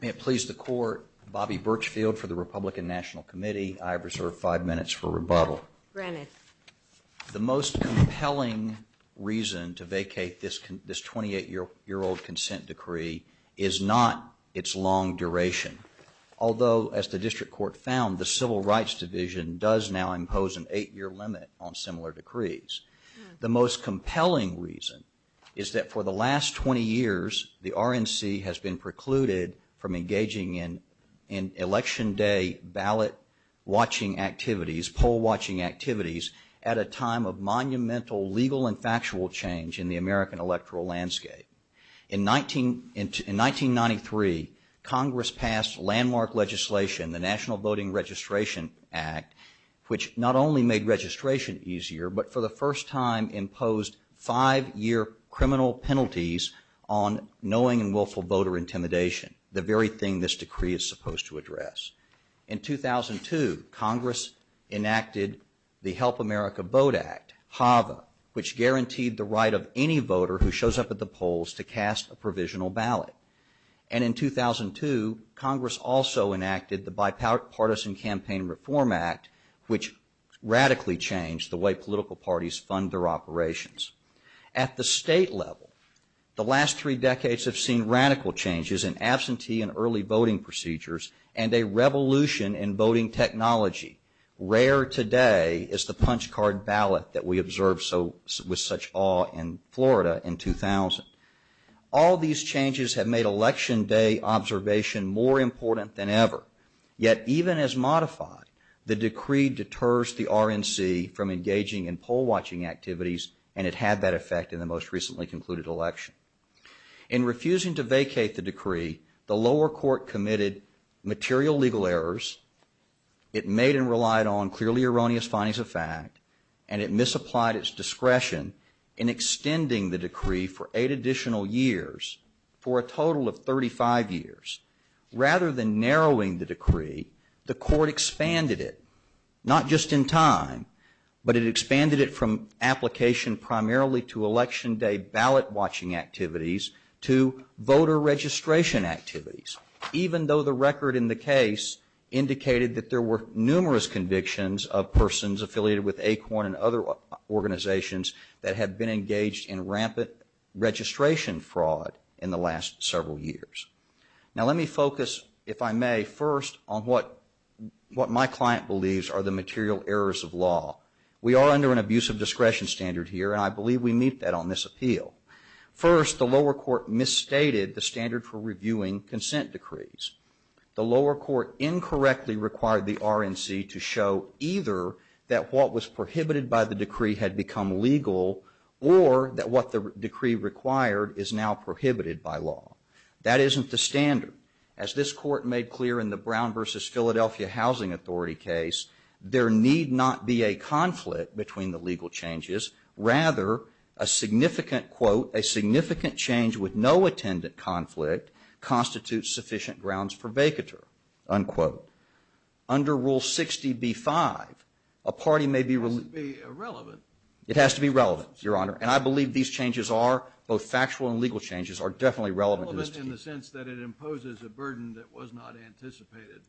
May it please the Court, Bobby Birchfield for the Republican National Committee. I reserve five minutes for rebuttal. The most compelling reason to vacate this 28-year-old consent decree is not its long duration. Although, as the District Court found, the Civil Rights Division does now impose an eight-year limit on similar decrees. The most compelling reason is that for the last 20 years, the RNC has been precluded from engaging in Election Day ballot-watching activities, poll-watching activities, at a time of monumental legal and factual change in the American electoral landscape. In 1993, Congress passed landmark legislation, the National Voting Registration Act, which not only made registration easier, but for the first time imposed five-year criminal penalties on knowing and willful voter intimidation, the very thing this decree is supposed to address. In 2002, Congress enacted the Help America Vote Act, HAVA, which guaranteed the right of any voter who shows up at the polls to cast a provisional ballot. And in 2002, Congress also enacted the Bipartisan Campaign Reform Act, which radically changed the way political parties fund their operations. At the state level, the last three decades have seen radical changes in absentee and early voting procedures and a revolution in voting technology. Rare today is the punch card ballot that we observed with such awe in Florida in 2000. All these changes have made Election Day observation more important than ever. Yet even as modified, the decree deters the RNC from engaging in poll-watching activities and it had that effect in the most recently concluded election. In refusing to vacate the decree, the lower court committed material legal errors. It made and relied on clearly erroneous findings of fact, and it misapplied its discretion in extending the decree for eight additional years, for a total of 35 years. Rather than narrowing the decree, the court expanded it, not just in time, but it expanded it from application primarily to Election Day ballot-watching activities to voter registration activities, even though the record in the case indicated that there were numerous convictions of persons affiliated with ACORN and other organizations that had been engaged in rampant registration fraud in the last several years. Now let me focus, if I may, first on what my client believes are the material errors of law. We are under an abuse of discretion standard here, and I believe we meet that on this appeal. First, the lower court misstated the standard for reviewing consent decrees. The lower court incorrectly required the RNC to show either that what was prohibited by the decree had become legal, or that what the decree required is now prohibited by law. That isn't the standard. As this court made clear in the Brown v. Philadelphia Housing Authority case, there need not be a conflict between the legal changes. Rather, a significant, quote, a significant change with no attendant conflict constitutes sufficient grounds for vacatur, unquote. Under Rule 60b-5, a party may be relieved. It has to be relevant. It has to be relevant, Your Honor, and I believe these changes are, both factual and legal changes, are definitely relevant to this decree. Relevant in the sense that it imposes a burden that was not anticipated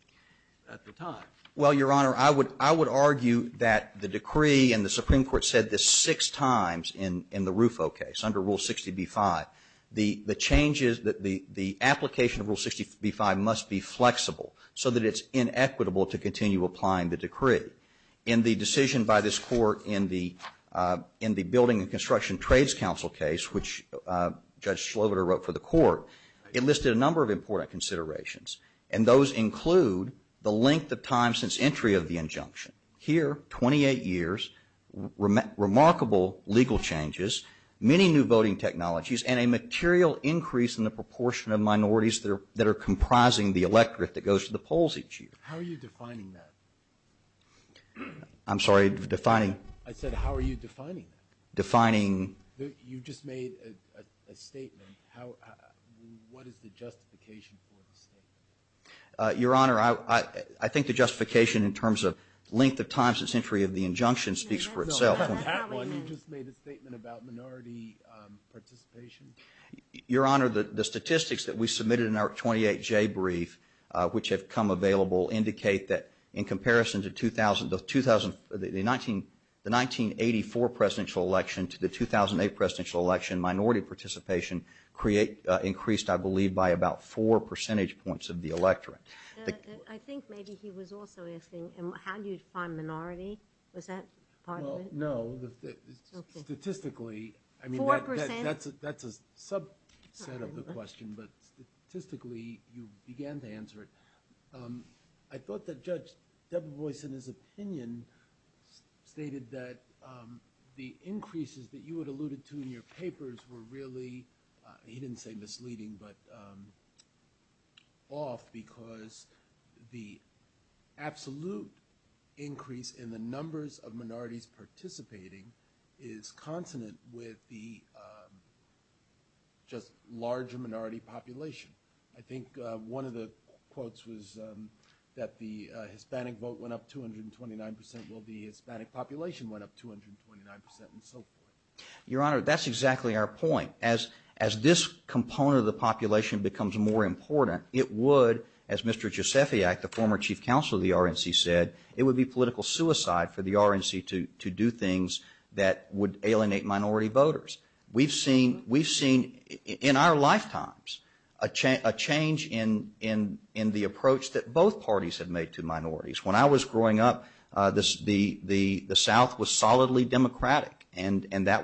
at the time. Well, Your Honor, I would argue that the decree and the Supreme Court said this six times in the Rufo case, under Rule 60b-5. The changes, the application of Rule 60b-5 must be flexible so that it's inequitable to continue applying the decree. In the decision by this court in the Building and Construction Trades Council case, which Judge Schloverter wrote for the court, it listed a number of important considerations, and those include the length of time since entry of the injunction. Here, 28 years, remarkable legal changes, many new voting technologies, and a material increase in the proportion of minorities that are comprising the electorate that goes to the polls each year. How are you defining that? I'm sorry, defining? I said, how are you defining that? Defining? You just made a statement. What is the justification for the statement? Your Honor, I think the justification in terms of length of time since entry of the injunction speaks for itself. You just made a statement about minority participation. Your Honor, the statistics that we submitted in our 28-J brief, which have come available, indicate that in comparison to the 1984 presidential election to the 2008 presidential election, minority participation increased, I believe, by about four percentage points of the electorate. I think maybe he was also asking, how do you define minority? Was that part of it? No. Statistically, that's a subset of the question, but statistically, you began to answer it. I thought that Judge Debevoise, in his opinion, stated that the increases that you had alluded to in your papers were really, he didn't say misleading, but off because the absolute increase in the numbers of minorities participating is consonant with the just larger minority population. I think one of the quotes was that the Hispanic vote went up 229%, while the Hispanic population went up 229% and so forth. Your Honor, that's exactly our point. As this component of the population becomes more important, it would, as Mr. Giuseppe Act, the former chief counsel of the RNC said, it would be political suicide for the RNC to do things that would alienate minority voters. We've seen in our lifetimes a change in the approach that both parties have made to minorities. When I was growing up, the South was solidly democratic, and that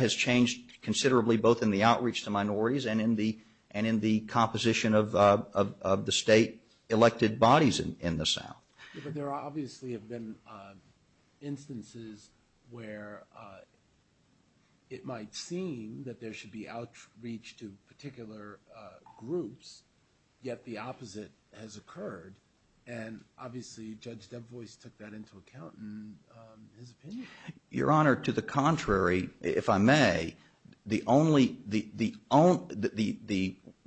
has changed considerably both in the outreach to minorities and in the composition of the state elected bodies in the South. But there obviously have been instances where it might seem that there should be outreach to particular groups, yet the opposite has occurred. And obviously, Judge DeVos took that into account in his opinion. Your Honor, to the contrary, if I may, the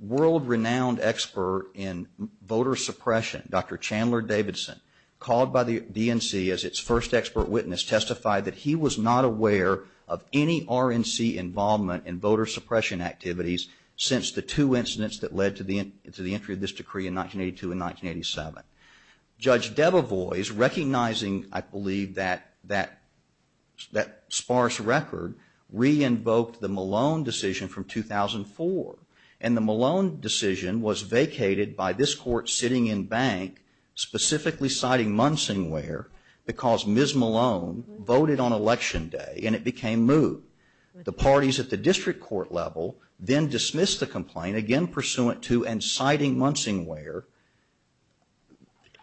world-renowned expert in voter suppression, Dr. Chandler Davidson, called by the DNC as its first expert witness, testified that he was not aware of any RNC involvement in voter suppression activities since the two incidents that led to the entry of this decree in 1982 and 1987. Judge DeVos, recognizing, I believe, that sparse record, re-invoked the Malone decision from 2004. And the Malone decision was vacated by this Court sitting in bank, specifically citing Munsingware, because Ms. Malone voted on election day, and it became moot. The parties at the district court level then dismissed the complaint, again pursuant to and citing Munsingware,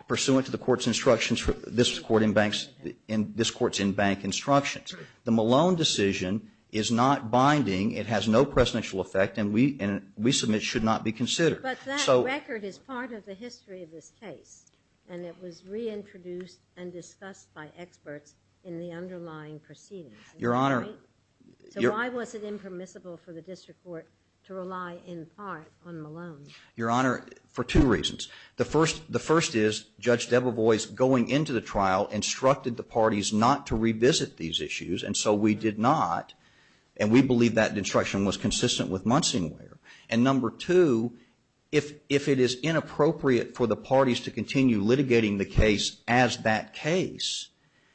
pursuant to this Court's in-bank instructions. The Malone decision is not binding, it has no presidential effect, and we submit should not be considered. But that record is part of the history of this case, and it was reintroduced and discussed by experts in the underlying proceedings. Your Honor. So why was it impermissible for the district court to rely in part on Malone? Your Honor, for two reasons. The first is, Judge DeVos, going into the trial, instructed the parties not to revisit these issues, and so we did not. And we believe that instruction was consistent with Munsingware. And number two, if it is inappropriate for the parties to continue litigating the case as that case,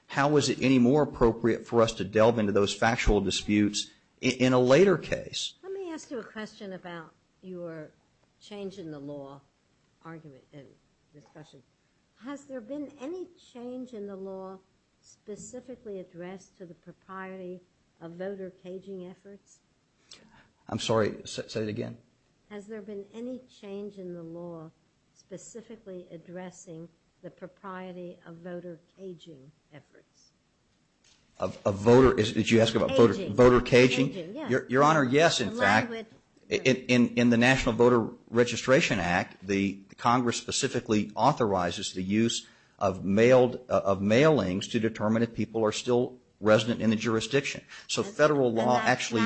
how is it any more appropriate for us to delve into those factual disputes in a later case? Let me ask you a question about your change in the law argument and discussion. Has there been any change in the law specifically addressed to the propriety of voter caging efforts? I'm sorry. Say it again. Has there been any change in the law specifically addressing the propriety of voter caging efforts? Of voter, did you ask about voter caging? Your Honor, yes, in fact. In the National Voter Registration Act, the Congress specifically authorizes the use of mailed, of mailings to determine if people are still resident in the jurisdiction. So federal law actually,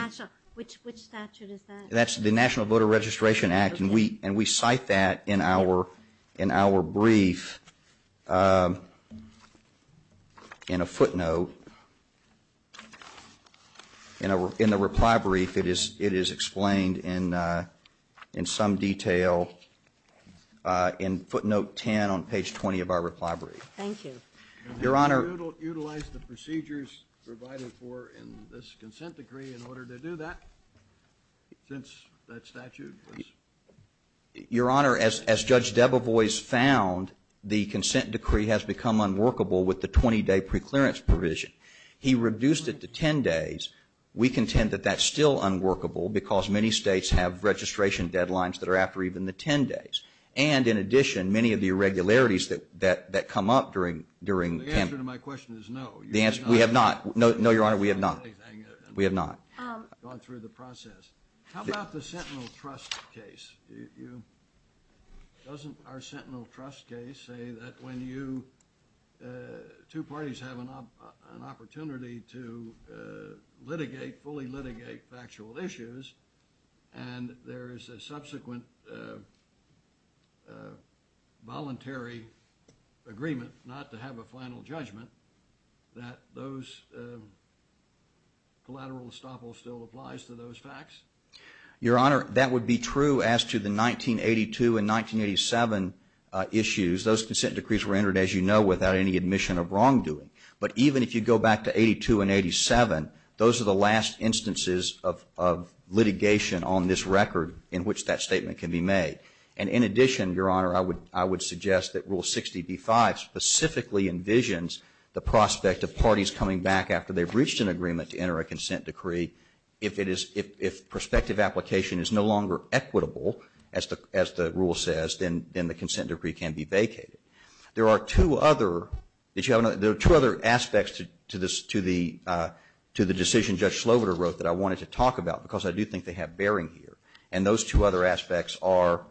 which statute is that? That's the National Voter Registration Act, and we cite that in our brief in a footnote. In the reply brief, it is explained in some detail in footnote 10 on page 20 of our reply brief. Thank you. Your Honor. Can we utilize the procedures provided for in this consent decree in order to do that? Since that statute was... Your Honor, as Judge Debevoise found, the consent decree has become unworkable with the 20-day preclearance provision. He reduced it to 10 days. We contend that that's still unworkable because many states have registration deadlines that are after even the 10 days. And, in addition, many of the irregularities that come up during... The answer to my question is no. The answer... We have not. No, Your Honor, we have not. We have not gone through the process. How about the Sentinel Trust case? Doesn't our Sentinel Trust case say that when you, two parties have an opportunity to litigate, fully litigate factual issues, and there is a subsequent... voluntary agreement not to have a final judgment, that those... collateral estoppel still applies to those facts? Your Honor, that would be true as to the 1982 and 1987 issues. Those consent decrees were entered, as you know, without any admission of wrongdoing. But even if you go back to 82 and 87, those are the last instances of litigation on this can be made. And, in addition, Your Honor, I would suggest that Rule 60b-5 specifically envisions the prospect of parties coming back after they've reached an agreement to enter a consent decree. If it is... If prospective application is no longer equitable, as the rule says, then the consent decree can be vacated. There are two other... Did you have another... There are two other aspects to the decision Judge Sloboda wrote that I wanted to talk about because I do think they have bearing here. And those two other aspects are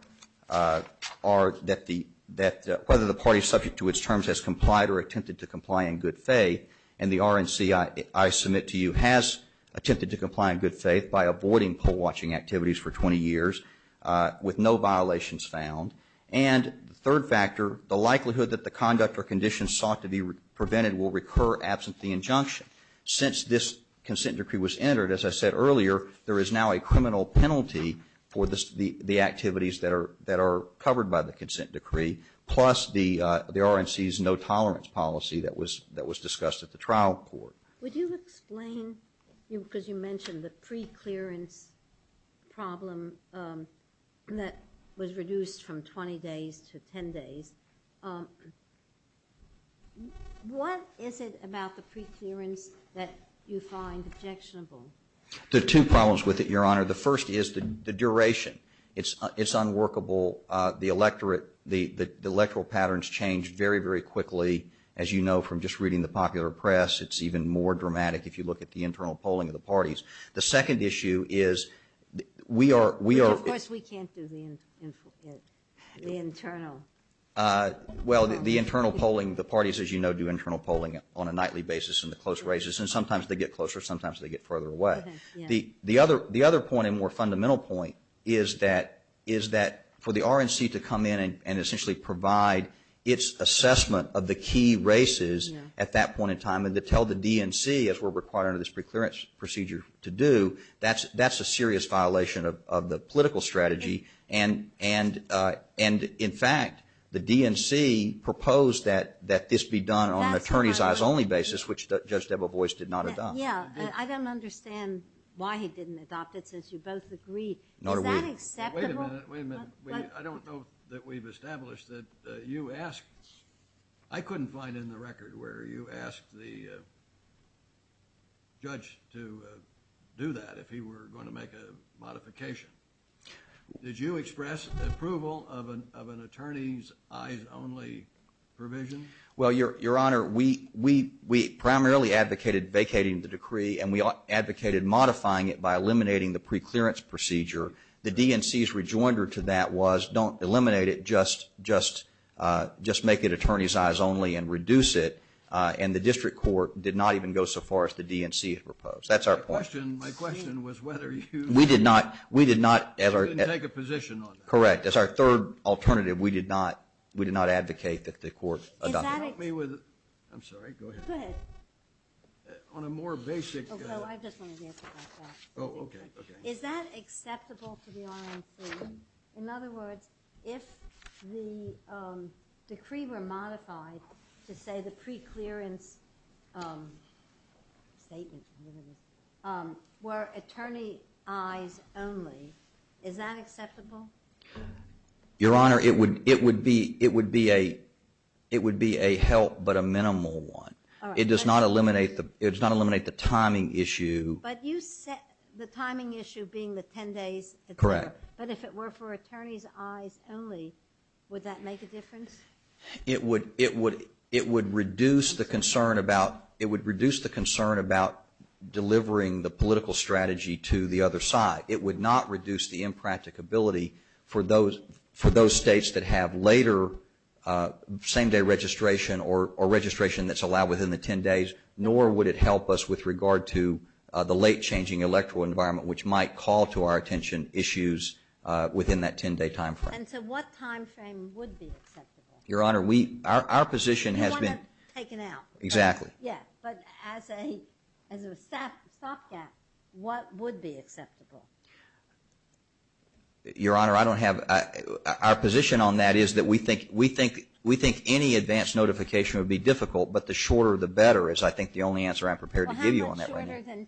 that whether the party subject to its terms has complied or attempted to comply in good faith, and the RNC, I submit to you, has attempted to comply in good faith by avoiding poll watching activities for 20 years with no violations found. And the third factor, the likelihood that the conduct or conditions sought to be prevented will recur absent the injunction. Since this consent decree was entered, as I said earlier, there is now a criminal penalty for the activities that are covered by the consent decree, plus the RNC's no-tolerance policy that was discussed at the trial court. Would you explain, because you mentioned the pre-clearance problem that was reduced from 20 days to 10 days. What is it about the pre-clearance that you find objectionable? There are two problems with it, Your Honor. The first is the duration. It's unworkable. The electorate, the electoral patterns change very, very quickly. As you know from just reading the popular press, it's even more dramatic if you look at the internal polling of the parties. The second issue is we are... Of course, we can't do the internal. Well, the internal polling, the parties, as you know, do internal polling on a nightly basis in the close races, and sometimes they get closer, sometimes they get further away. The other point and more fundamental point is that for the RNC to come in and essentially provide its assessment of the key races at that point in time and to tell the DNC, as we're required under this pre-clearance procedure to do, that's a serious violation of the political strategy, and in fact, the DNC proposed that this be done on an attorney's eyes only basis, which Judge Debevoise did not adopt. Yeah. I don't understand why he didn't adopt it, since you both agreed. Is that acceptable? Wait a minute. Wait a minute. I don't know that we've established that you asked... I couldn't find in the record where you asked the judge to do that if he were going to make a modification. Did you express approval of an attorney's eyes only provision? Well, Your Honor, we primarily advocated vacating the decree and we advocated modifying it by eliminating the pre-clearance procedure. The DNC's rejoinder to that was, don't eliminate it, just make it attorney's eyes only and reduce it, and the district court did not even go so far as the DNC had proposed. That's our point. My question was whether you... We did not... We did not... You didn't take a position on that. Correct. That's our third alternative. We did not advocate that the court adopt it. Help me with... I'm sorry. Go ahead. Go ahead. On a more basic... Oh, no. I just wanted to answer that question. Oh, okay. Okay. Is that acceptable to the RNC? In other words, if the decree were modified to say the pre-clearance statements were attorney's eyes only, is that acceptable? Your Honor, it would be a help but a minimal one. It does not eliminate the timing issue. But you set the timing issue being the 10 days... Correct. But if it were for attorney's eyes only, would that make a difference? It would reduce the concern about delivering the political strategy to the other side. It would not reduce the impracticability for those states that have later same-day registration or registration that's allowed within the 10 days, nor would it help us with regard to the late-changing electoral environment, which might call to our attention issues within that 10-day time frame. And so what time frame would be acceptable? Your Honor, we... Our position has been... You want it taken out. Exactly. Yeah. But as a stopgap, what would be acceptable? Your Honor, I don't have... Our position on that is that we think any advanced notification would be difficult, but the shorter the better is, I think, the only answer I'm prepared to give you on that right now. Well, how much shorter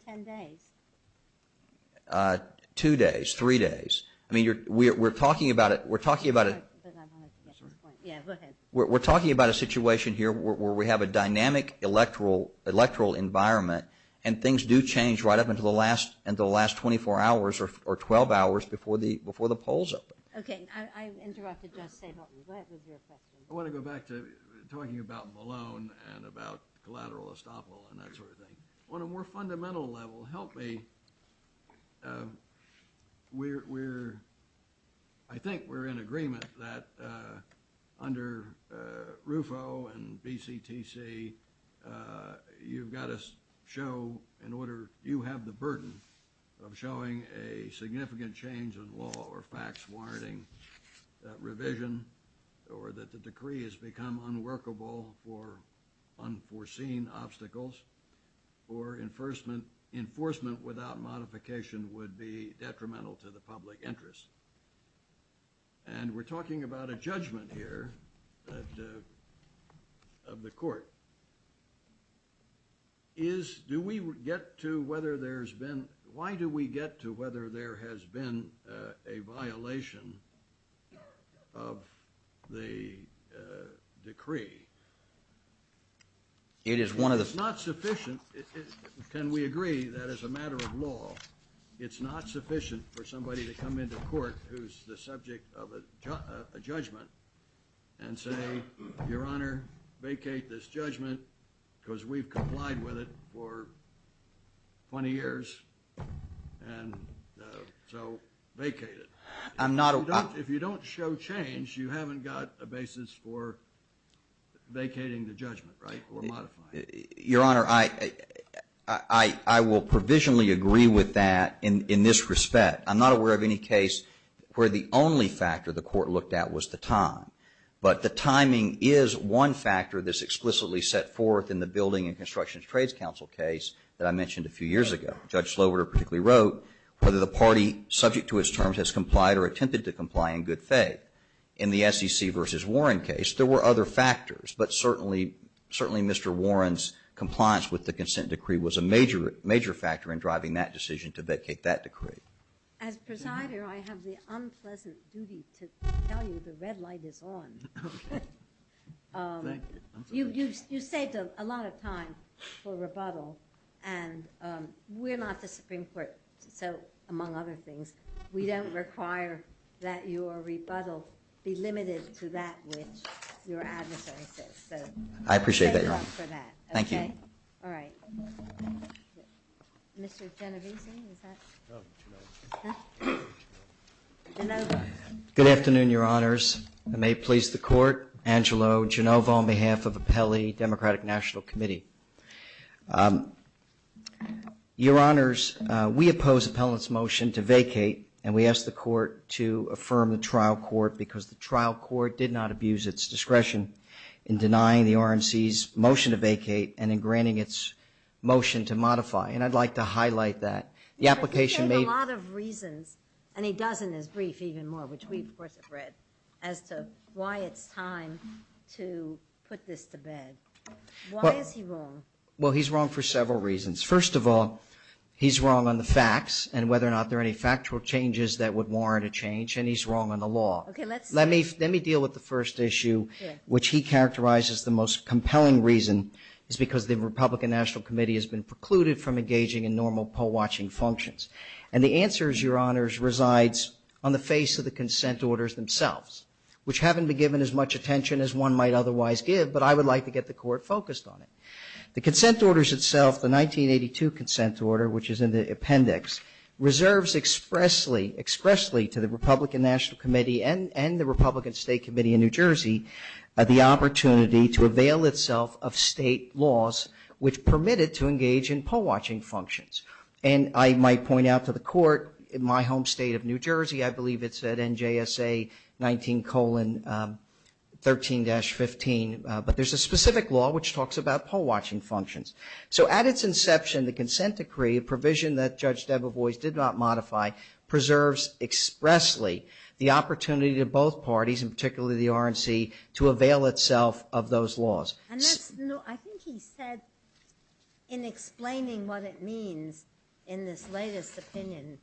than 10 days? Two days, three days. I mean, we're talking about it... But I wanted to get to this point. Yeah, go ahead. We're talking about a situation here where we have a dynamic electoral environment, and things do change right up until the last 24 hours or 12 hours before the polls open. Okay. I interrupted just saying... Go ahead with your question. I want to go back to talking about Malone and about collateral estoppel and that sort of thing. On a more fundamental level, help me. We're... I think we're in agreement that under RUFO and BCTC, you've got to show in order... You have the burden of showing a significant change in law or facts warranting that revision or that the decree has become unworkable for unforeseen obstacles or enforcement without modification would be detrimental to the public interest. And we're talking about a judgment here of the court. Do we get to whether there's been... the decree? It is one of the... If it's not sufficient, can we agree that as a matter of law, it's not sufficient for somebody to come into court who's the subject of a judgment and say, Your Honor, vacate this judgment because we've complied with it for 20 years, and so vacate it? I'm not... If you don't show change, you haven't got a basis for vacating the judgment, right, or modifying it. Your Honor, I will provisionally agree with that in this respect. I'm not aware of any case where the only factor the court looked at was the time. But the timing is one factor that's explicitly set forth in the Building and Construction Trades Council case that I mentioned a few years ago. Judge Slover particularly wrote, whether the party subject to its terms has complied or attempted to comply in good faith. In the SEC v. Warren case, there were other factors, but certainly Mr. Warren's compliance with the consent decree was a major factor in driving that decision to vacate that decree. As presider, I have the unpleasant duty to tell you the red light is on. Okay. You saved a lot of time for rebuttal, and we're not the Supreme Court, so among other things, we don't require that your rebuttal be limited to that which your adversary says. I appreciate that, Your Honor. Thank you. All right. Mr. Genovese, is that? Genovo. Good afternoon, Your Honors. I may please the court. Angelo Genovo on behalf of Appellee Democratic National Committee. Your Honors, we oppose Appellant's motion to vacate, and we ask the court to affirm the trial court because the trial court did not abuse its discretion in denying the RNC's motion to vacate and in granting its motion to modify, and I'd like to highlight that. The application made- He gave a lot of reasons, and he does in his brief even more, which we, of course, have read, as to why it's time to put this to bed. Why is he wrong? Well, he's wrong for several reasons. First of all, he's wrong on the facts and whether or not there are any factual changes that would warrant a change, and he's wrong on the law. Okay, let's- Let me deal with the first issue, which he characterizes the most compelling reason is because the Republican National Committee has been precluded from engaging in normal poll-watching functions, and the answer, Your Honors, resides on the face of the consent orders themselves, which haven't been given as much attention as one might otherwise give, but I would like to get the Court focused on it. The consent orders itself, the 1982 consent order, which is in the appendix, reserves expressly to the Republican National Committee and the Republican State Committee in New Jersey the opportunity to avail itself of state laws which permit it to engage in poll-watching functions, and I might point out to the Court, in my home state of New Jersey, I believe it's at NJSA 19-13-15, but there's a specific law which talks about poll-watching functions. So at its inception, the consent decree, a provision that Judge Debevoise did not modify, preserves expressly the opportunity to both parties, and particularly the RNC, to avail itself of those laws. And that's- I think he said in explaining what it means in this latest opinion-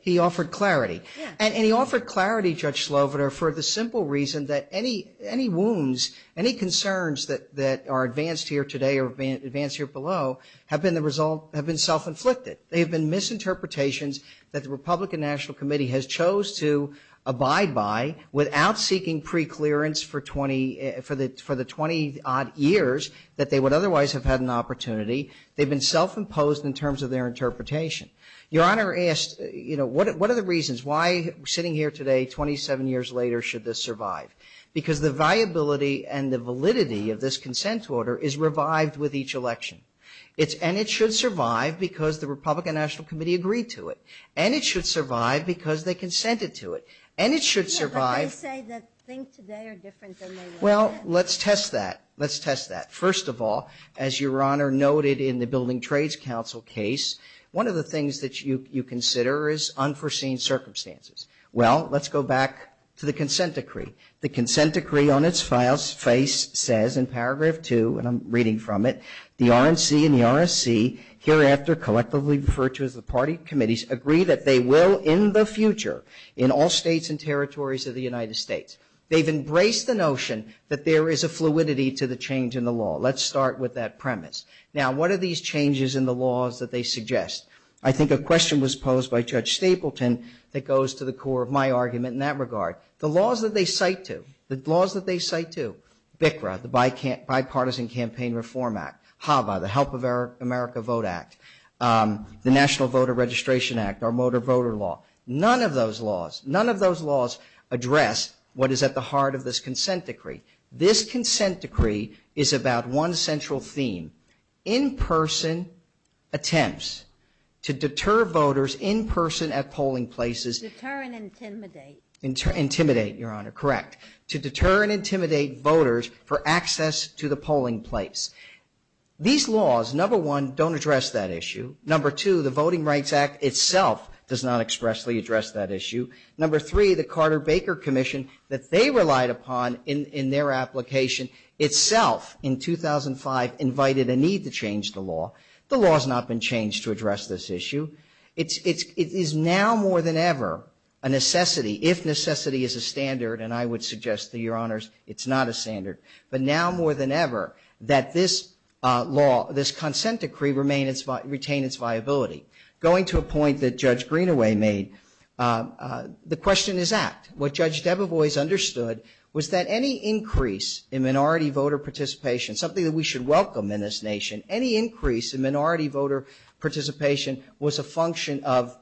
He offered clarity. And he offered clarity, Judge Slover, for the simple reason that any wounds, any concerns that are advanced here today or advanced here below, have been self-inflicted. They have been misinterpretations that the Republican National Committee has chose to abide by without seeking preclearance for the 20-odd years that they would otherwise have had an opportunity. They've been self-imposed in terms of their interpretation. Your Honor asked, you know, what are the reasons why sitting here today, 27 years later, should this survive? Because the viability and the validity of this consent order is revived with each election. And it should survive because the Republican National Committee agreed to it. And it should survive because they consented to it. And it should survive- But they say that things today are different than they were then. Well, let's test that. Let's test that. First of all, as Your Honor noted in the Building Trades Council case, one of the things that you consider is unforeseen circumstances. Well, let's go back to the consent decree. The consent decree on its face says in paragraph 2, and I'm reading from it, the RNC and the RSC, hereafter collectively referred to as the party committees, agree that they will in the future in all states and territories of the United States. They've embraced the notion that there is a fluidity to the change in the law. Let's start with that premise. Now, what are these changes in the laws that they suggest? I think a question was posed by Judge Stapleton that goes to the core of my argument in that regard. The laws that they cite to, the laws that they cite to, BICRA, the Bipartisan Campaign Reform Act, HAVA, the Help America Vote Act, the National Voter Registration Act, our motor voter law, none of those laws, none of those laws address what is at the heart of this consent decree. This consent decree is about one central theme, in-person attempts to deter voters in person at polling places. Deter and intimidate. Intimidate, Your Honor, correct. To deter and intimidate voters for access to the polling place. These laws, number one, don't address that issue. Number two, the Voting Rights Act itself does not expressly address that issue. Number three, the Carter-Baker Commission that they relied upon in their application itself in 2005 invited a need to change the law. The law has not been changed to address this issue. It is now more than ever a necessity, if necessity is a standard, and I would suggest to Your Honors it's not a standard, but now more than ever that this law, this consent decree, retain its viability. Going to a point that Judge Greenaway made, the question is apt. What Judge Debevoise understood was that any increase in minority voter participation, something that we should welcome in this nation, any increase in minority voter participation was a function of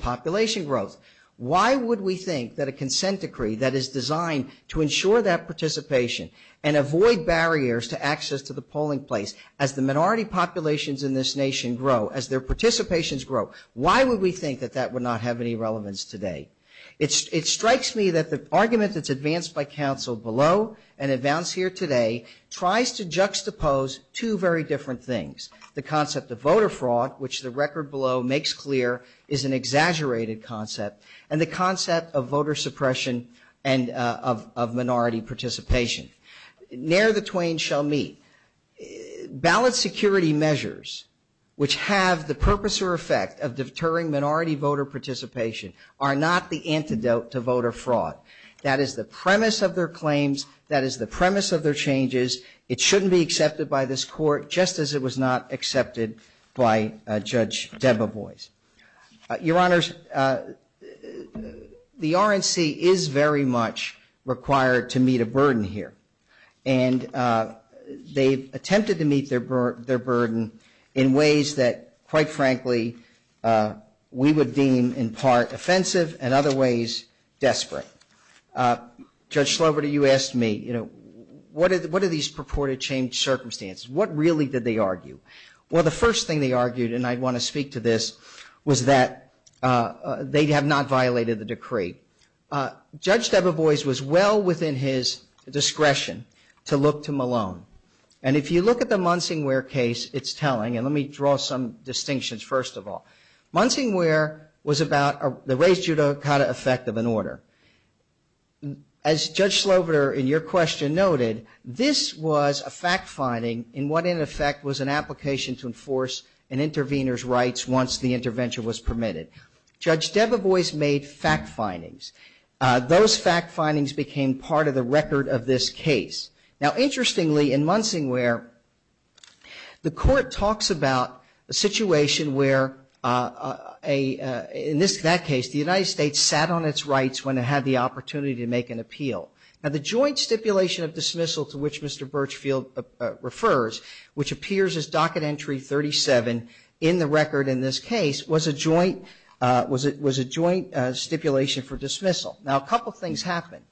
population growth. Why would we think that a consent decree that is designed to ensure that participation and avoid barriers to access to the polling place as the minority populations in this nation grow, as their participations grow, why would we think that that would not have any relevance today? It strikes me that the argument that's advanced by counsel below and advanced here today tries to juxtapose two very different things, the concept of voter fraud, which the record below makes clear is an exaggerated concept, and the concept of voter suppression and of minority participation. Ne'er the twain shall meet. Ballot security measures which have the purpose or effect of deterring minority voter participation are not the antidote to voter fraud. That is the premise of their claims. That is the premise of their changes. It shouldn't be accepted by this Court, just as it was not accepted by Judge Debevoise. Your Honors, the RNC is very much required to meet a burden here, and they've attempted to meet their burden in ways that, quite frankly, we would deem in part offensive and other ways desperate. Judge Sloverter, you asked me, you know, what are these purported changed circumstances? What really did they argue? Well, the first thing they argued, and I want to speak to this, was that they have not violated the decree. Judge Debevoise was well within his discretion to look to Malone, and if you look at the Munsingware case, it's telling, and let me draw some distinctions first of all. Munsingware was about the res judicata effect of an order. As Judge Sloverter in your question noted, this was a fact finding in what, in effect, was an application to enforce an intervener's rights once the intervention was permitted. Judge Debevoise made fact findings. Those fact findings became part of the record of this case. Now, interestingly, in Munsingware, the Court talks about a situation where, in that case, the United States sat on its rights when it had the opportunity to make an appeal. Now, the joint stipulation of dismissal to which Mr. Birchfield refers, which appears as Docket Entry 37 in the record in this case, was a joint stipulation for dismissal. Now, a couple of things happened.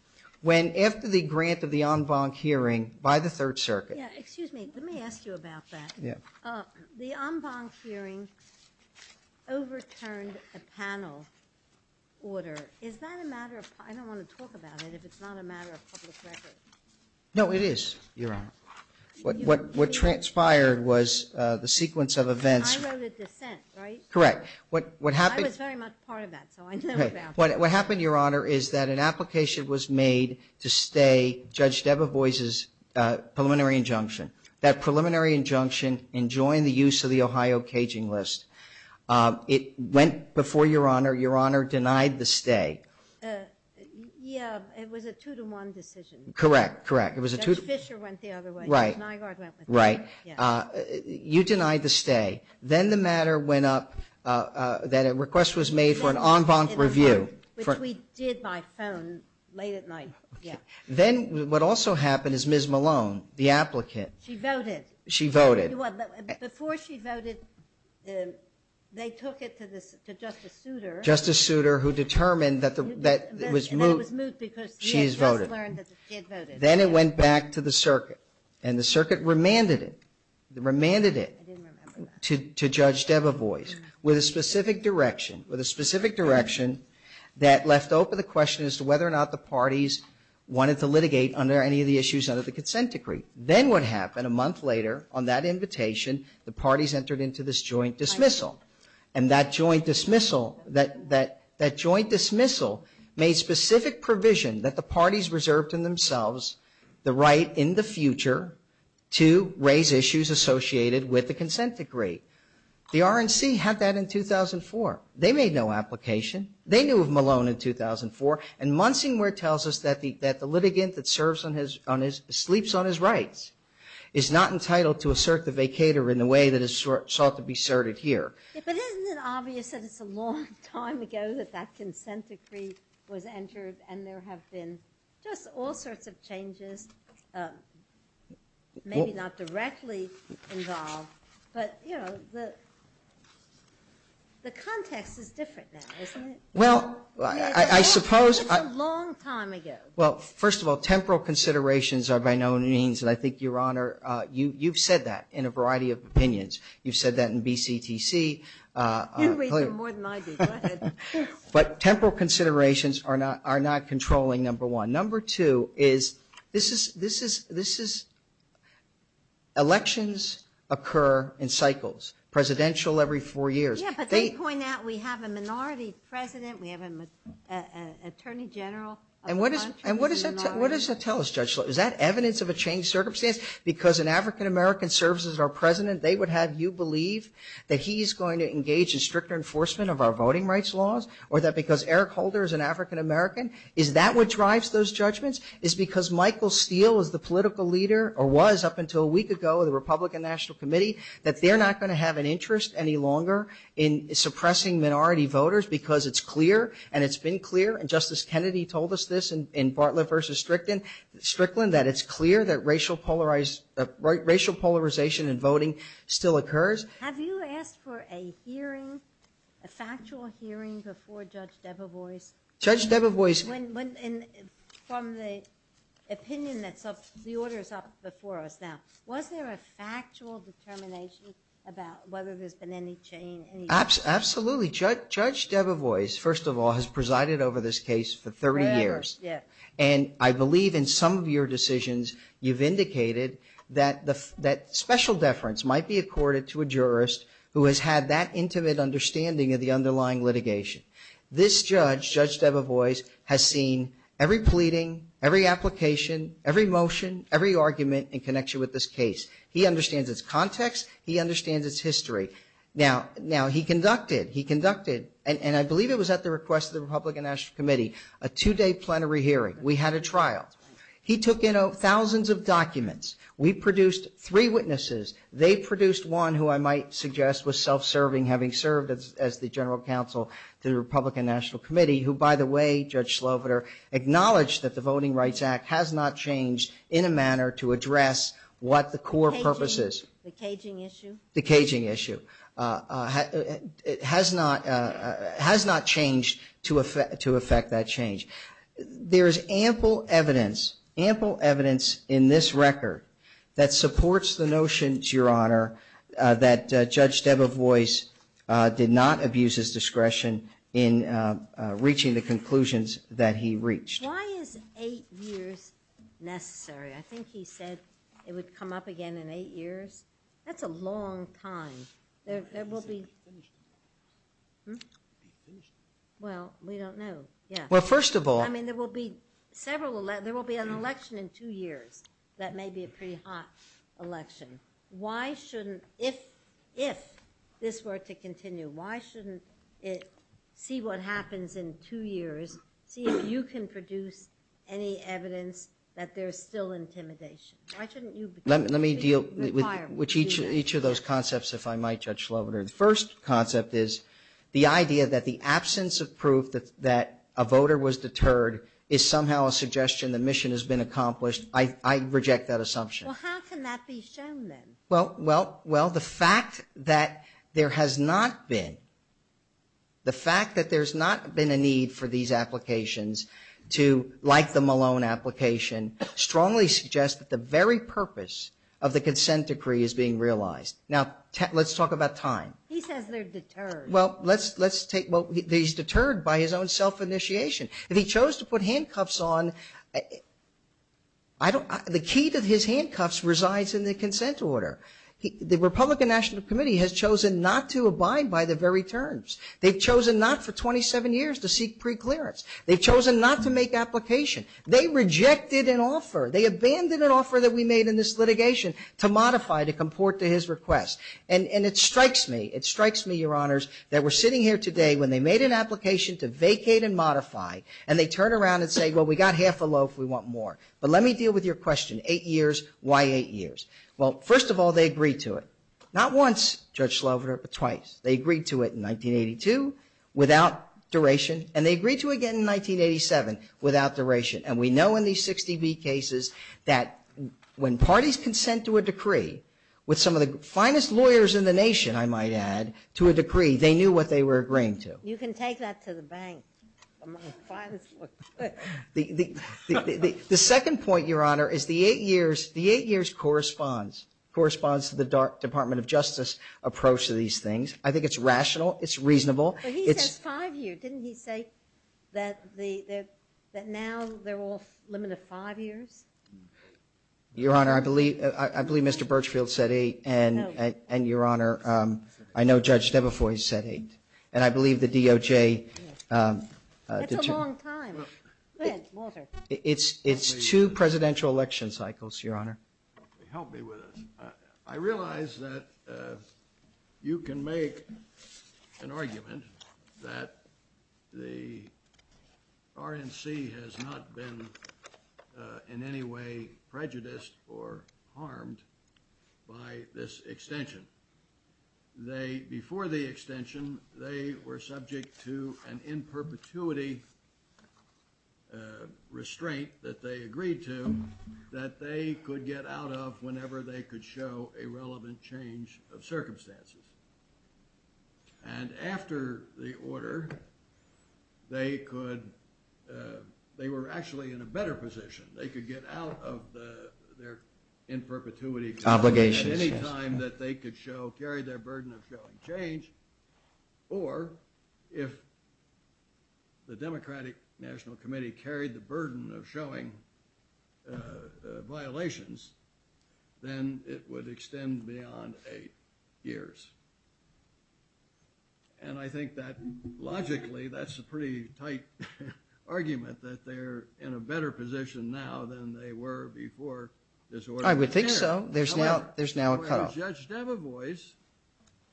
When, after the grant of the en banc hearing by the Third Circuit. Yeah, excuse me. Let me ask you about that. Yeah. The en banc hearing overturned a panel order. I don't want to talk about it if it's not a matter of public record. No, it is, Your Honor. What transpired was the sequence of events. I wrote a dissent, right? Correct. I was very much part of that, so I know about that. What happened, Your Honor, is that an application was made to stay Judge Debevoise's preliminary injunction. That preliminary injunction enjoined the use of the Ohio caging list. It went before Your Honor. Your Honor denied the stay. Yeah, it was a two-to-one decision. Correct, correct. Judge Fischer went the other way. Right. The deny guard went with him. Right. You denied the stay. Then the matter went up that a request was made for an en banc review. Which we did by phone late at night. Then what also happened is Ms. Malone, the applicant. She voted. She voted. Before she voted, they took it to Justice Souter. Justice Souter, who determined that it was moot. That it was moot because she had just learned that she had voted. Then it went back to the circuit, and the circuit remanded it. Remanded it. I didn't remember that. To Judge Debevoise with a specific direction. With a specific direction that left open the question as to whether or not the parties wanted to litigate under any of the issues under the consent decree. Then what happened a month later on that invitation, the parties entered into this joint dismissal. And that joint dismissal made specific provision that the parties reserved in themselves the right in the future to raise issues associated with the consent decree. The RNC had that in 2004. They made no application. They knew of Malone in 2004. And Monsignor tells us that the litigant that sleeps on his rights is not entitled to assert the vacator in the way that is sought to be asserted here. But isn't it obvious that it's a long time ago that that consent decree was entered and there have been just all sorts of changes, maybe not directly involved. But, you know, the context is different now, isn't it? Well, I suppose. It's a long time ago. Well, first of all, temporal considerations are by no means, and I think, Your Honor, you've said that in a variety of opinions. You've said that in BCTC. You read more than I do. Go ahead. But temporal considerations are not controlling, number one. Number two is this is elections occur in cycles, presidential every four years. Yeah, but they point out we have a minority president. We have an attorney general. And what does that tell us, Judge Schultz? Is that evidence of a changed circumstance? Because an African-American serves as our president, they would have you believe that he's going to engage in stricter enforcement of our voting rights laws? Or that because Eric Holder is an African-American, is that what drives those judgments? Is it because Michael Steele is the political leader, or was up until a week ago, the Republican National Committee, that they're not going to have an interest any longer in suppressing minority voters because it's clear and it's been clear, and Justice Kennedy told us this in Bartlett v. Strickland, that it's clear that racial polarization in voting still occurs. Have you asked for a hearing, a factual hearing before Judge Debevoise? Judge Debevoise. From the opinion that's up, the order's up before us now. Was there a factual determination about whether there's been any change? Absolutely. Judge Debevoise, first of all, has presided over this case for 30 years. And I believe in some of your decisions, you've indicated that special deference might be accorded to a jurist who has had that intimate understanding of the underlying litigation. This judge, Judge Debevoise, has seen every pleading, every application, every motion, every argument in connection with this case. He understands its context. He understands its history. Now, he conducted, and I believe it was at the request of the Republican National Committee, a two-day plenary hearing. We had a trial. He took in thousands of documents. We produced three witnesses. They produced one who I might suggest was self-serving, having served as the general counsel to the Republican National Committee, who, by the way, Judge Sloviter, acknowledged that the Voting Rights Act has not changed in a manner to address what the core purpose is. The caging issue? The caging issue. It has not changed to affect that change. There is ample evidence, ample evidence in this record that supports the notion, Your Honor, that Judge Debevoise did not abuse his discretion in reaching the conclusions that he reached. Why is eight years necessary? I think he said it would come up again in eight years. That's a long time. Well, we don't know. Well, first of all I mean, there will be several, there will be an election in two years that may be a pretty hot election. Why shouldn't, if this were to continue, why shouldn't it see what happens in two years, see if you can produce any evidence that there's still intimidation? Why shouldn't you Let me deal with each of those concepts, if I might, Judge Sloviter. The first concept is the idea that the absence of proof that a voter was deterred is somehow a suggestion the mission has been accomplished. I reject that assumption. Well, how can that be shown then? Well, the fact that there has not been, the fact that there's not been a need for these applications to, like the Malone application, strongly suggests that the very purpose of the consent decree is being realized. Now, let's talk about time. He says they're deterred. Well, let's take, well, he's deterred by his own self-initiation. If he chose to put handcuffs on, I don't, the key to his handcuffs resides in the consent order. The Republican National Committee has chosen not to abide by the very terms. They've chosen not for 27 years to seek preclearance. They've chosen not to make application. They rejected an offer. They abandoned an offer that we made in this litigation to modify, to comport to his request. And it strikes me, it strikes me, Your Honors, that we're sitting here today when they made an application to vacate and modify, and they turn around and say, well, we got half a loaf. We want more. But let me deal with your question. Eight years. Why eight years? Well, first of all, they agreed to it. Not once, Judge Sloviter, but twice. They agreed to it in 1982 without duration, and they agreed to it again in 1987 without duration. And we know in these 60B cases that when parties consent to a decree, with some of the finest lawyers in the nation, I might add, to a decree, they knew what they were agreeing to. You can take that to the bank. The second point, Your Honor, is the eight years, the eight years corresponds, corresponds to the Department of Justice approach to these things. I think it's rational. It's reasonable. But he says five years. Didn't he say that now they're all limited to five years? Your Honor, I believe Mr. Birchfield said eight, and, Your Honor, I know Judge Debefois said eight, and I believe the DOJ did too. That's a long time. Go ahead, Walter. It's two presidential election cycles, Your Honor. Help me with this. I realize that you can make an argument that the RNC has not been in any way prejudiced or harmed by this extension. Before the extension, they were subject to an in perpetuity restraint that they agreed to that they could get out of whenever they could show a relevant change of circumstances. And after the order, they could, they were actually in a better position. They could get out of their in perpetuity restraint at any time that they could show, carry their burden of showing change, or if the Democratic National Committee carried the burden of showing violations, then it would extend beyond eight years. And I think that, logically, that's a pretty tight argument, that they're in a better position now than they were before this order came in. I would think so. There's now a cutoff. Judge Debevoise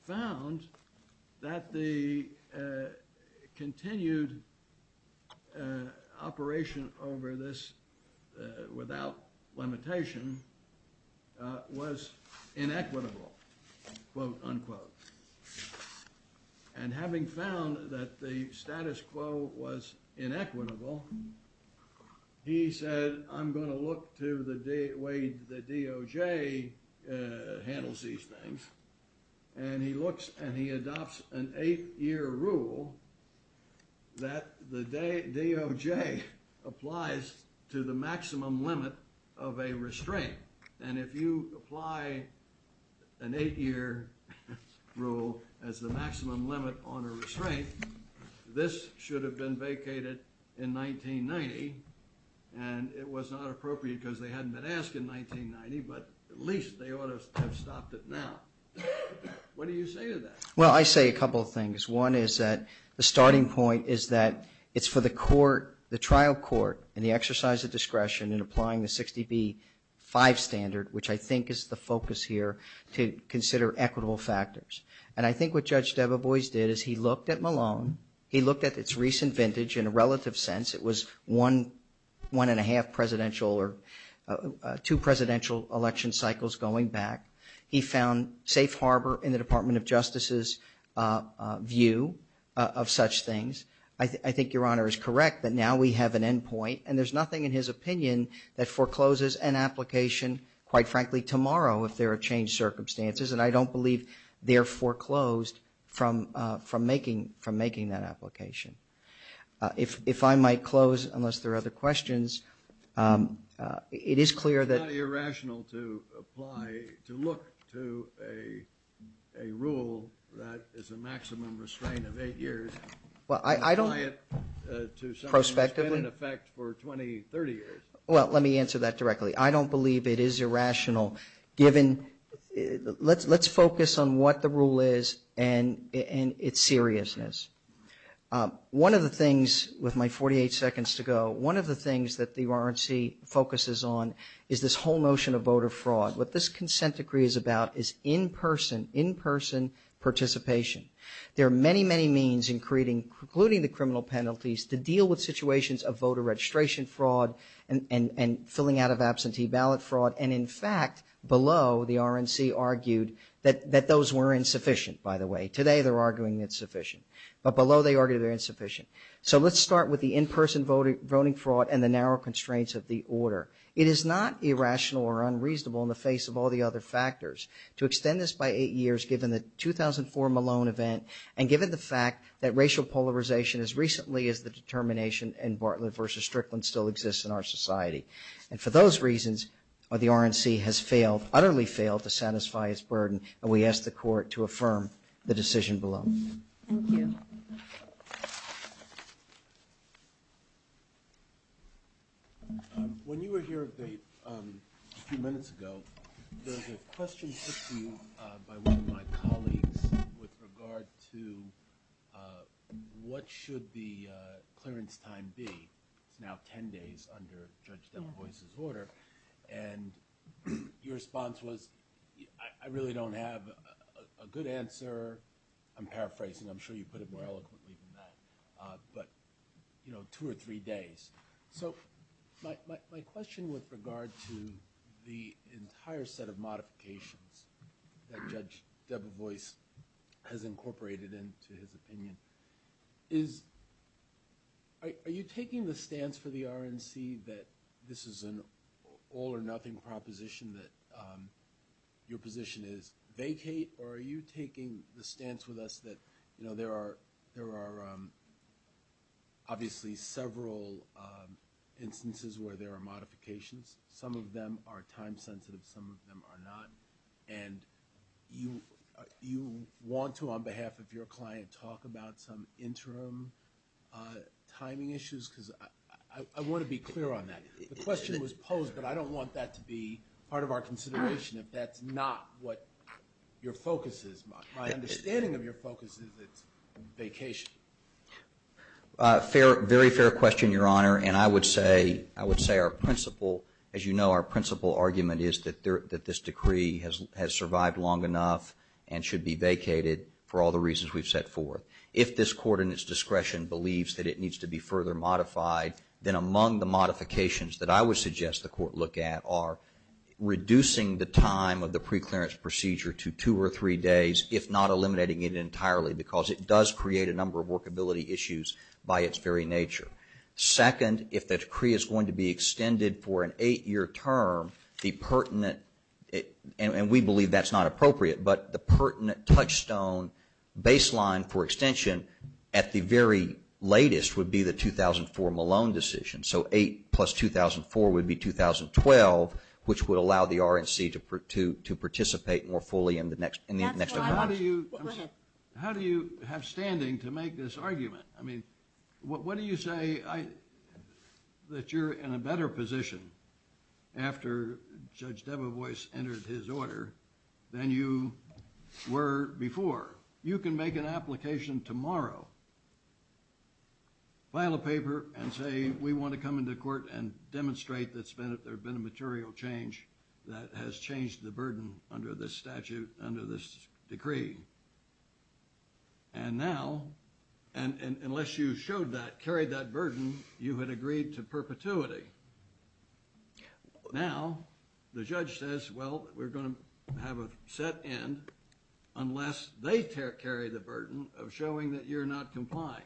found that the continued operation over this without limitation was inequitable, quote unquote. And having found that the status quo was inequitable, he said, I'm going to look to the way the DOJ handles these things, and he looks and he adopts an eight-year rule that the DOJ applies to the maximum limit of a restraint. And if you apply an eight-year rule as the maximum limit on a restraint, this should have been vacated in 1990, and it was not appropriate because they hadn't been asked in 1990, but at least they ought to have stopped it now. What do you say to that? Well, I say a couple of things. One is that the starting point is that it's for the trial court and the exercise of discretion in applying the 60B-5 standard, which I think is the focus here, to consider equitable factors. And I think what Judge Debevoise did is he looked at Malone, he looked at its recent vintage in a relative sense. It was one, one-and-a-half presidential or two presidential election cycles going back. He found safe harbor in the Department of Justice's view of such things. I think Your Honor is correct that now we have an endpoint, and there's nothing in his opinion that forecloses an application, quite frankly, tomorrow if there are changed circumstances, and I don't believe they're foreclosed from making that application. If I might close, unless there are other questions, it is clear that... It's not irrational to apply, to look to a rule that is a maximum restraint of eight years. Well, I don't... Prospectively? It's been in effect for 20, 30 years. Well, let me answer that directly. I don't believe it is irrational given... Let's focus on what the rule is and its seriousness. One of the things, with my 48 seconds to go, one of the things that the RNC focuses on is this whole notion of voter fraud. What this consent decree is about is in-person, in-person participation. There are many, many means in creating, including the criminal penalties, to deal with situations of voter registration fraud and filling out of absentee ballot fraud, and in fact, below, the RNC argued that those were insufficient, by the way. Today, they're arguing it's sufficient. But below, they argue they're insufficient. So let's start with the in-person voting fraud and the narrow constraints of the order. It is not irrational or unreasonable in the face of all the other factors to extend this by eight years given the 2004 Malone event and given the fact that racial polarization as recently as the determination in Bartlett v. Strickland still exists in our society. And for those reasons, the RNC has utterly failed to satisfy its burden, and we ask the Court to affirm the decision below. Thank you. When you were here a few minutes ago, there was a question put to you by one of my colleagues with regard to what should the clearance time be. It's now 10 days under Judge Debevoise's order. And your response was, I really don't have a good answer. I'm paraphrasing. I'm sure you put it more eloquently than that. But, you know, two or three days. So my question with regard to the entire set of modifications that Judge Debevoise has incorporated into his opinion is are you taking the stance for the RNC that this is an all-or-nothing proposition, that your position is vacate, or are you taking the stance with us that, you know, there are obviously several instances where there are modifications. Some of them are time-sensitive. Some of them are not. And you want to, on behalf of your client, talk about some interim timing issues? Because I want to be clear on that. The question was posed, but I don't want that to be part of our consideration if that's not what your focus is. My understanding of your focus is it's vacation. Very fair question, Your Honor. And I would say our principal, as you know, our principal argument is that this decree has survived long enough and should be vacated for all the reasons we've set forth. If this Court, in its discretion, believes that it needs to be further modified, then among the modifications that I would suggest the Court look at are reducing the time of the preclearance procedure to two or three days, if not eliminating it entirely, because it does create a number of workability issues by its very nature. Second, if the decree is going to be extended for an eight-year term, the pertinent, and we believe that's not appropriate, but the pertinent touchstone baseline for extension at the very latest would be the 2004 Malone decision. So eight plus 2004 would be 2012, which would allow the RNC to participate more fully in the next 10 months. How do you have standing to make this argument? I mean, what do you say that you're in a better position after Judge Debevoise entered his order than you were before? You can make an application tomorrow, file a paper, and say we want to come into court and demonstrate that there's been a material change that has changed the burden under this statute, under this decree. And now, unless you showed that, carried that burden, you had agreed to perpetuity. Now, the judge says, well, we're going to have a set end unless they carry the burden of showing that you're not complying.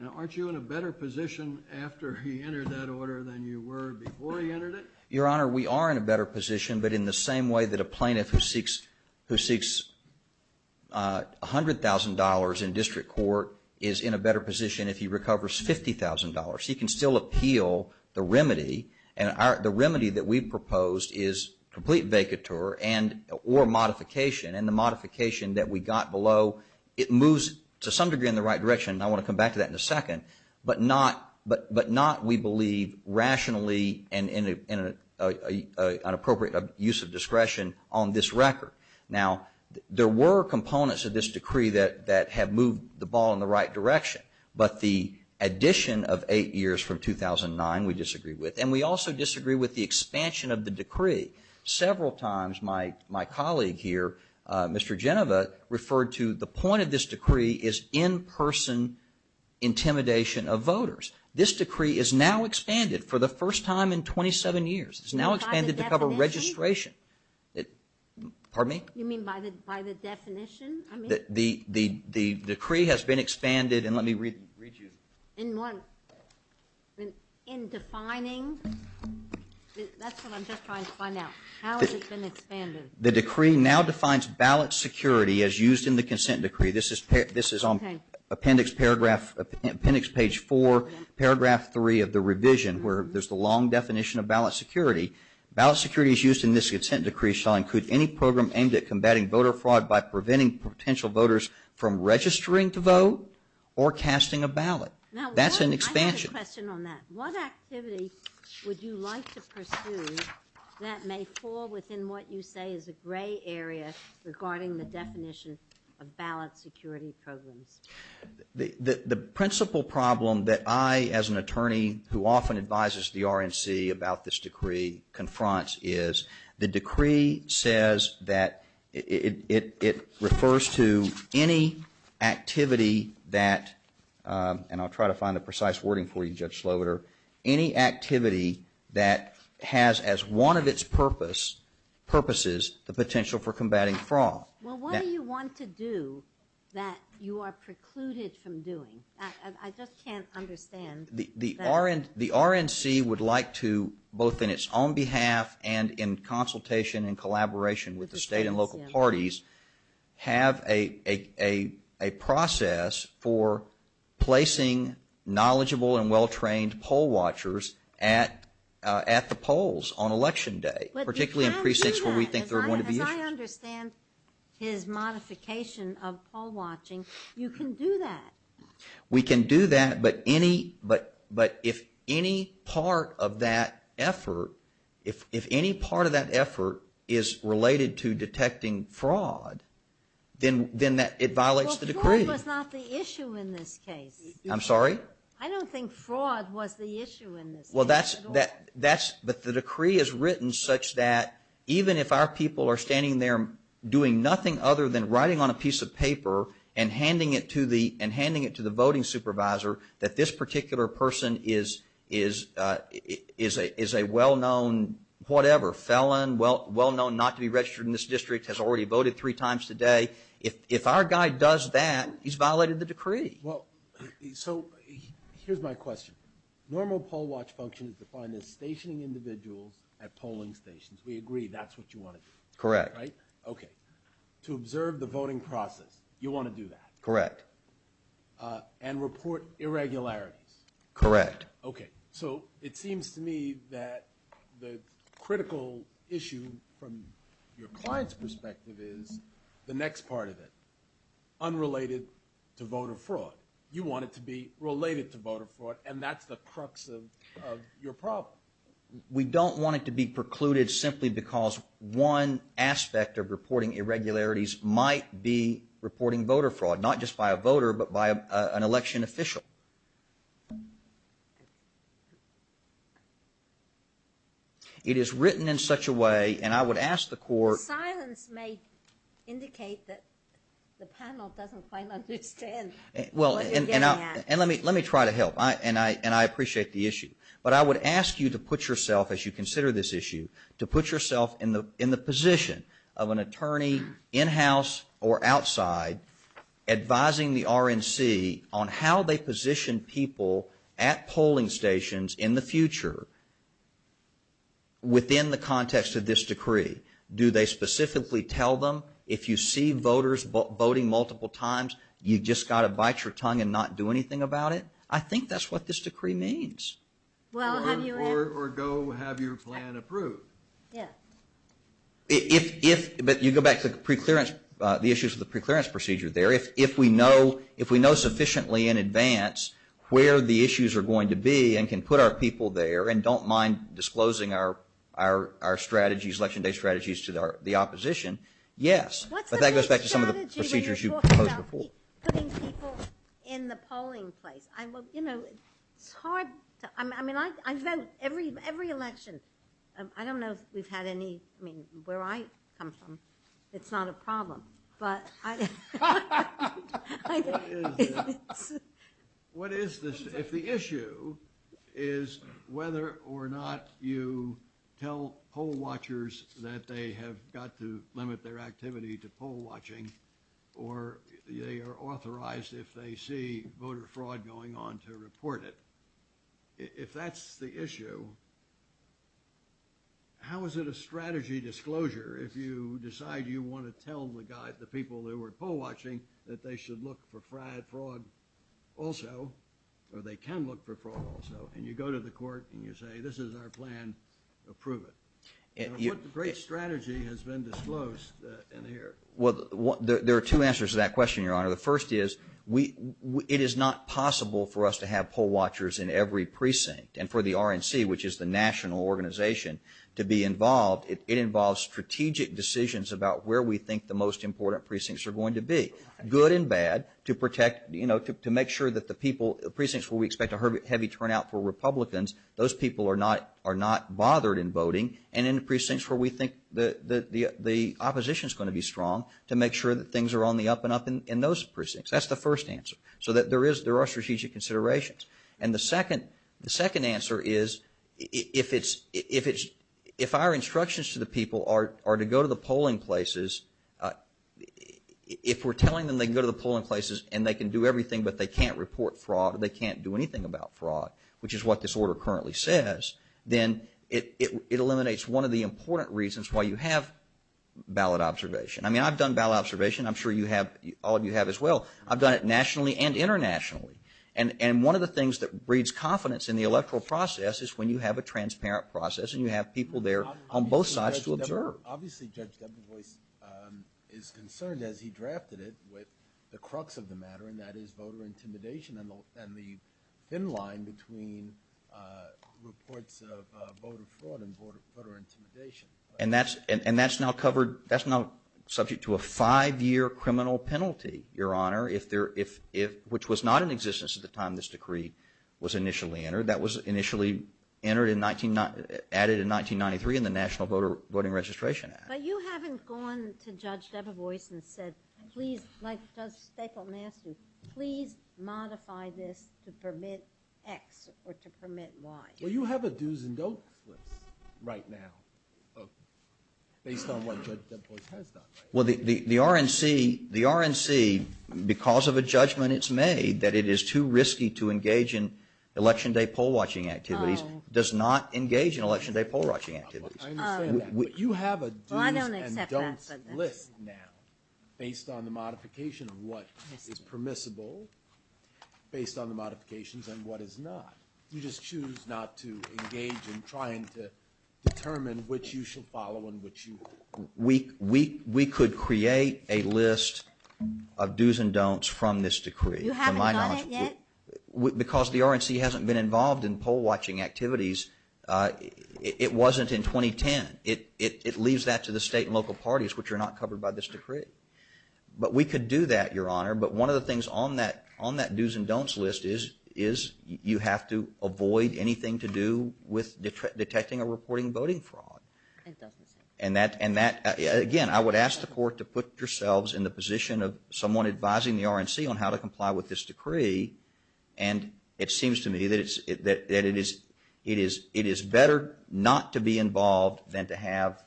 Now, aren't you in a better position after he entered that order than you were before he entered it? Your Honor, we are in a better position, but in the same way that a plaintiff who seeks $100,000 in district court is in a better position if he recovers $50,000. He can still appeal the remedy, and the remedy that we proposed is complete vacatur or modification. And the modification that we got below, it moves to some degree in the right direction, and I want to come back to that in a second, but not, we believe, rationally and in an appropriate use of discretion on this record. Now, there were components of this decree that have moved the ball in the right direction, but the addition of eight years from 2009 we disagree with, and we also disagree with the expansion of the decree. Several times my colleague here, Mr. Genova, referred to the point of this decree is in-person intimidation of voters. This decree is now expanded for the first time in 27 years. It's now expanded to cover registration. Pardon me? You mean by the definition? The decree has been expanded, and let me read you. In what? In defining? That's what I'm just trying to find out. How has it been expanded? The decree now defines ballot security as used in the consent decree. This is on appendix page 4, paragraph 3 of the revision, where there's the long definition of ballot security. Ballot security as used in this consent decree shall include any program aimed at combating voter fraud by preventing potential voters from registering to vote or casting a ballot. That's an expansion. I have a question on that. What activity would you like to pursue that may fall within what you say is a gray area regarding the definition of ballot security programs? The principal problem that I, as an attorney who often advises the RNC about this decree, confronts is the decree says that it refers to any activity that, and I'll try to find the precise wording for you, Judge Sloboder, any activity that has as one of its purposes the potential for combating fraud. Well, what do you want to do that you are precluded from doing? I just can't understand. The RNC would like to, both in its own behalf and in consultation and collaboration with the state and local parties, have a process for placing knowledgeable and well-trained poll watchers at the polls on election day, particularly in precincts where we think there are going to be issues. But you can't do that. As I understand his modification of poll watching, you can do that. We can do that, but if any part of that effort, if any part of that effort is related to detecting fraud, then it violates the decree. Well, fraud was not the issue in this case. I'm sorry? I don't think fraud was the issue in this case at all. Well, that's, but the decree is written such that even if our people are standing there doing nothing other than writing on a piece of paper and handing it to the voting supervisor that this particular person is a well-known whatever, felon, well-known not to be registered in this district, has already voted three times today, if our guy does that, he's violated the decree. Well, so here's my question. Normal poll watch function is defined as stationing individuals at polling stations. We agree that's what you want to do. Correct. Right? Okay. To observe the voting process, you want to do that. Correct. And report irregularities. Correct. Okay. So it seems to me that the critical issue from your client's perspective is the next part of it, unrelated to voter fraud. You want it to be related to voter fraud, and that's the crux of your problem. We don't want it to be precluded simply because one aspect of reporting irregularities might be reporting voter fraud, not just by a voter but by an election official. It is written in such a way, and I would ask the court. The silence may indicate that the panel doesn't quite understand what you're getting at. And let me try to help, and I appreciate the issue. But I would ask you to put yourself, as you consider this issue, to put yourself in the position of an attorney in-house or outside advising the RNC on how they position people at polling stations in the future within the context of this decree. Do they specifically tell them, if you see voters voting multiple times, you've just got to bite your tongue and not do anything about it? I think that's what this decree means. Or go have your plan approved. But you go back to the issues of the preclearance procedure there. If we know sufficiently in advance where the issues are going to be and can put our people there and don't mind disclosing our strategies, Election Day strategies, to the opposition, yes. But that goes back to some of the procedures you proposed before. What's the big strategy when you're talking about putting people in the polling place? You know, it's hard. I mean, I vote every election. I don't know if we've had any. I mean, where I come from, it's not a problem. But I don't know. What is this? If the issue is whether or not you tell poll watchers that they have got to limit their activity to poll watching or they are authorized if they see voter fraud going on to report it, if that's the issue, how is it a strategy disclosure if you decide you want to tell the people who are poll watching that they should look for fraud also or they can look for fraud also and you go to the court and you say this is our plan, approve it? What great strategy has been disclosed in here? Well, there are two answers to that question, Your Honor. The first is it is not possible for us to have poll watchers in every precinct and for the RNC, which is the national organization, to be involved. It involves strategic decisions about where we think the most important precincts are going to be, good and bad, to protect, you know, to make sure that the people, the precincts where we expect a heavy turnout for Republicans, those people are not bothered in voting and in the precincts where we think the opposition is going to be strong to make sure that things are on the up and up in those precincts. That's the first answer, so that there are strategic considerations. And the second answer is if our instructions to the people are to go to the polling places, if we are telling them they can go to the polling places and they can do everything but they can't report fraud or they can't do anything about fraud, which is what this order currently says, then it eliminates one of the important reasons why you have ballot observation. I mean, I've done ballot observation. I'm sure you have, all of you have as well. I've done it nationally and internationally. And one of the things that breeds confidence in the electoral process is when you have a transparent process and you have people there on both sides to observe. Obviously, Judge Debevoise is concerned, as he drafted it, with the crux of the matter, and that is voter intimidation and the thin line between reports of voter fraud and voter intimidation. And that's now subject to a five-year criminal penalty, Your Honor, which was not in existence at the time this decree was initially entered. That was initially added in 1993 in the National Voting Registration Act. But you haven't gone to Judge Debevoise and said, please, like Judge Stapleton asked you, please modify this to permit X or to permit Y. Well, you have a do's and don'ts list right now based on what Judge Debevoise has done. Well, the RNC, because of a judgment it's made that it is too risky to engage in Election Day poll-watching activities, does not engage in Election Day poll-watching activities. I understand that. But you have a do's and don'ts list now based on the modification of what is permissible, based on the modifications and what is not. You just choose not to engage in trying to determine which you should follow and which you won't. We could create a list of do's and don'ts from this decree. You haven't done it yet? Because the RNC hasn't been involved in poll-watching activities. It wasn't in 2010. It leaves that to the state and local parties, which are not covered by this decree. But we could do that, Your Honor. But one of the things on that do's and don'ts list is you have to avoid anything to do with detecting or reporting voting fraud. It doesn't say. And that, again, I would ask the Court to put yourselves in the position of someone advising the RNC on how to comply with this decree. And it seems to me that it is better not to be involved than to have,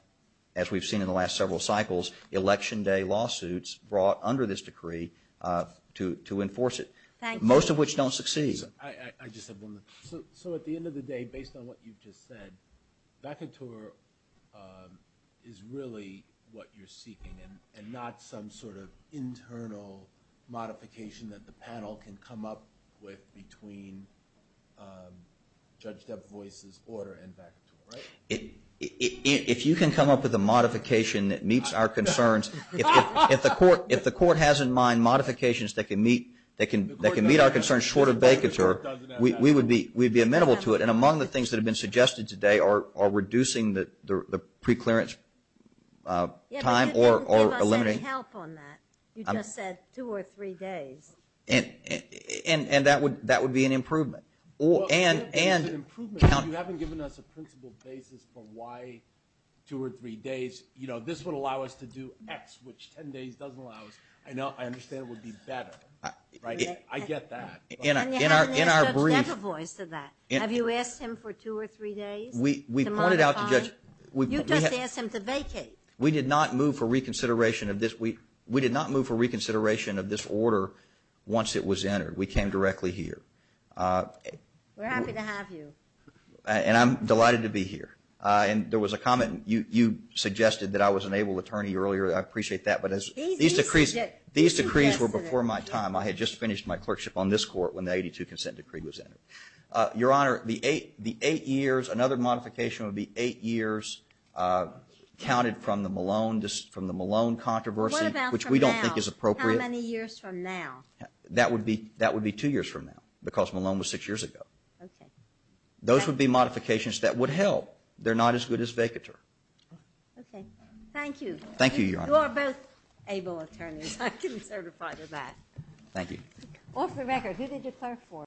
as we've seen in the last several cycles, election day lawsuits brought under this decree to enforce it, most of which don't succeed. Thank you. I just have one. So at the end of the day, based on what you've just said, vacateur is really what you're seeking and not some sort of internal modification that the panel can come up with between Judge Depp Voice's order and vacateur, right? If you can come up with a modification that meets our concerns, if the Court has in mind modifications that can meet our concerns short of vacateur, we would be amenable to it. And among the things that have been suggested today are reducing the preclearance time or eliminating. Yeah, but you didn't give us any help on that. You just said two or three days. And that would be an improvement. Well, if you haven't given us an improvement, if you haven't given us a principle basis for why two or three days, you know, this would allow us to do X, which 10 days doesn't allow us. I understand it would be better, right? I get that. And you haven't asked Judge Depp Voice to that. Have you asked him for two or three days to modify? We pointed out to Judge – You just asked him to vacate. We did not move for reconsideration of this. We did not move for reconsideration of this order once it was entered. We came directly here. We're happy to have you. And I'm delighted to be here. And there was a comment. You suggested that I was an able attorney earlier. I appreciate that. But these decrees were before my time. I had just finished my clerkship on this court when the 82 consent decree was entered. Your Honor, the eight years, another modification would be eight years counted from the Malone controversy, which we don't think is appropriate. What about from now? How many years from now? That would be two years from now because Malone was six years ago. Okay. Those would be modifications that would help. They're not as good as vacateur. Okay. Thank you. Thank you, Your Honor. You are both able attorneys. Thank you. Off the record, who did you clerk for?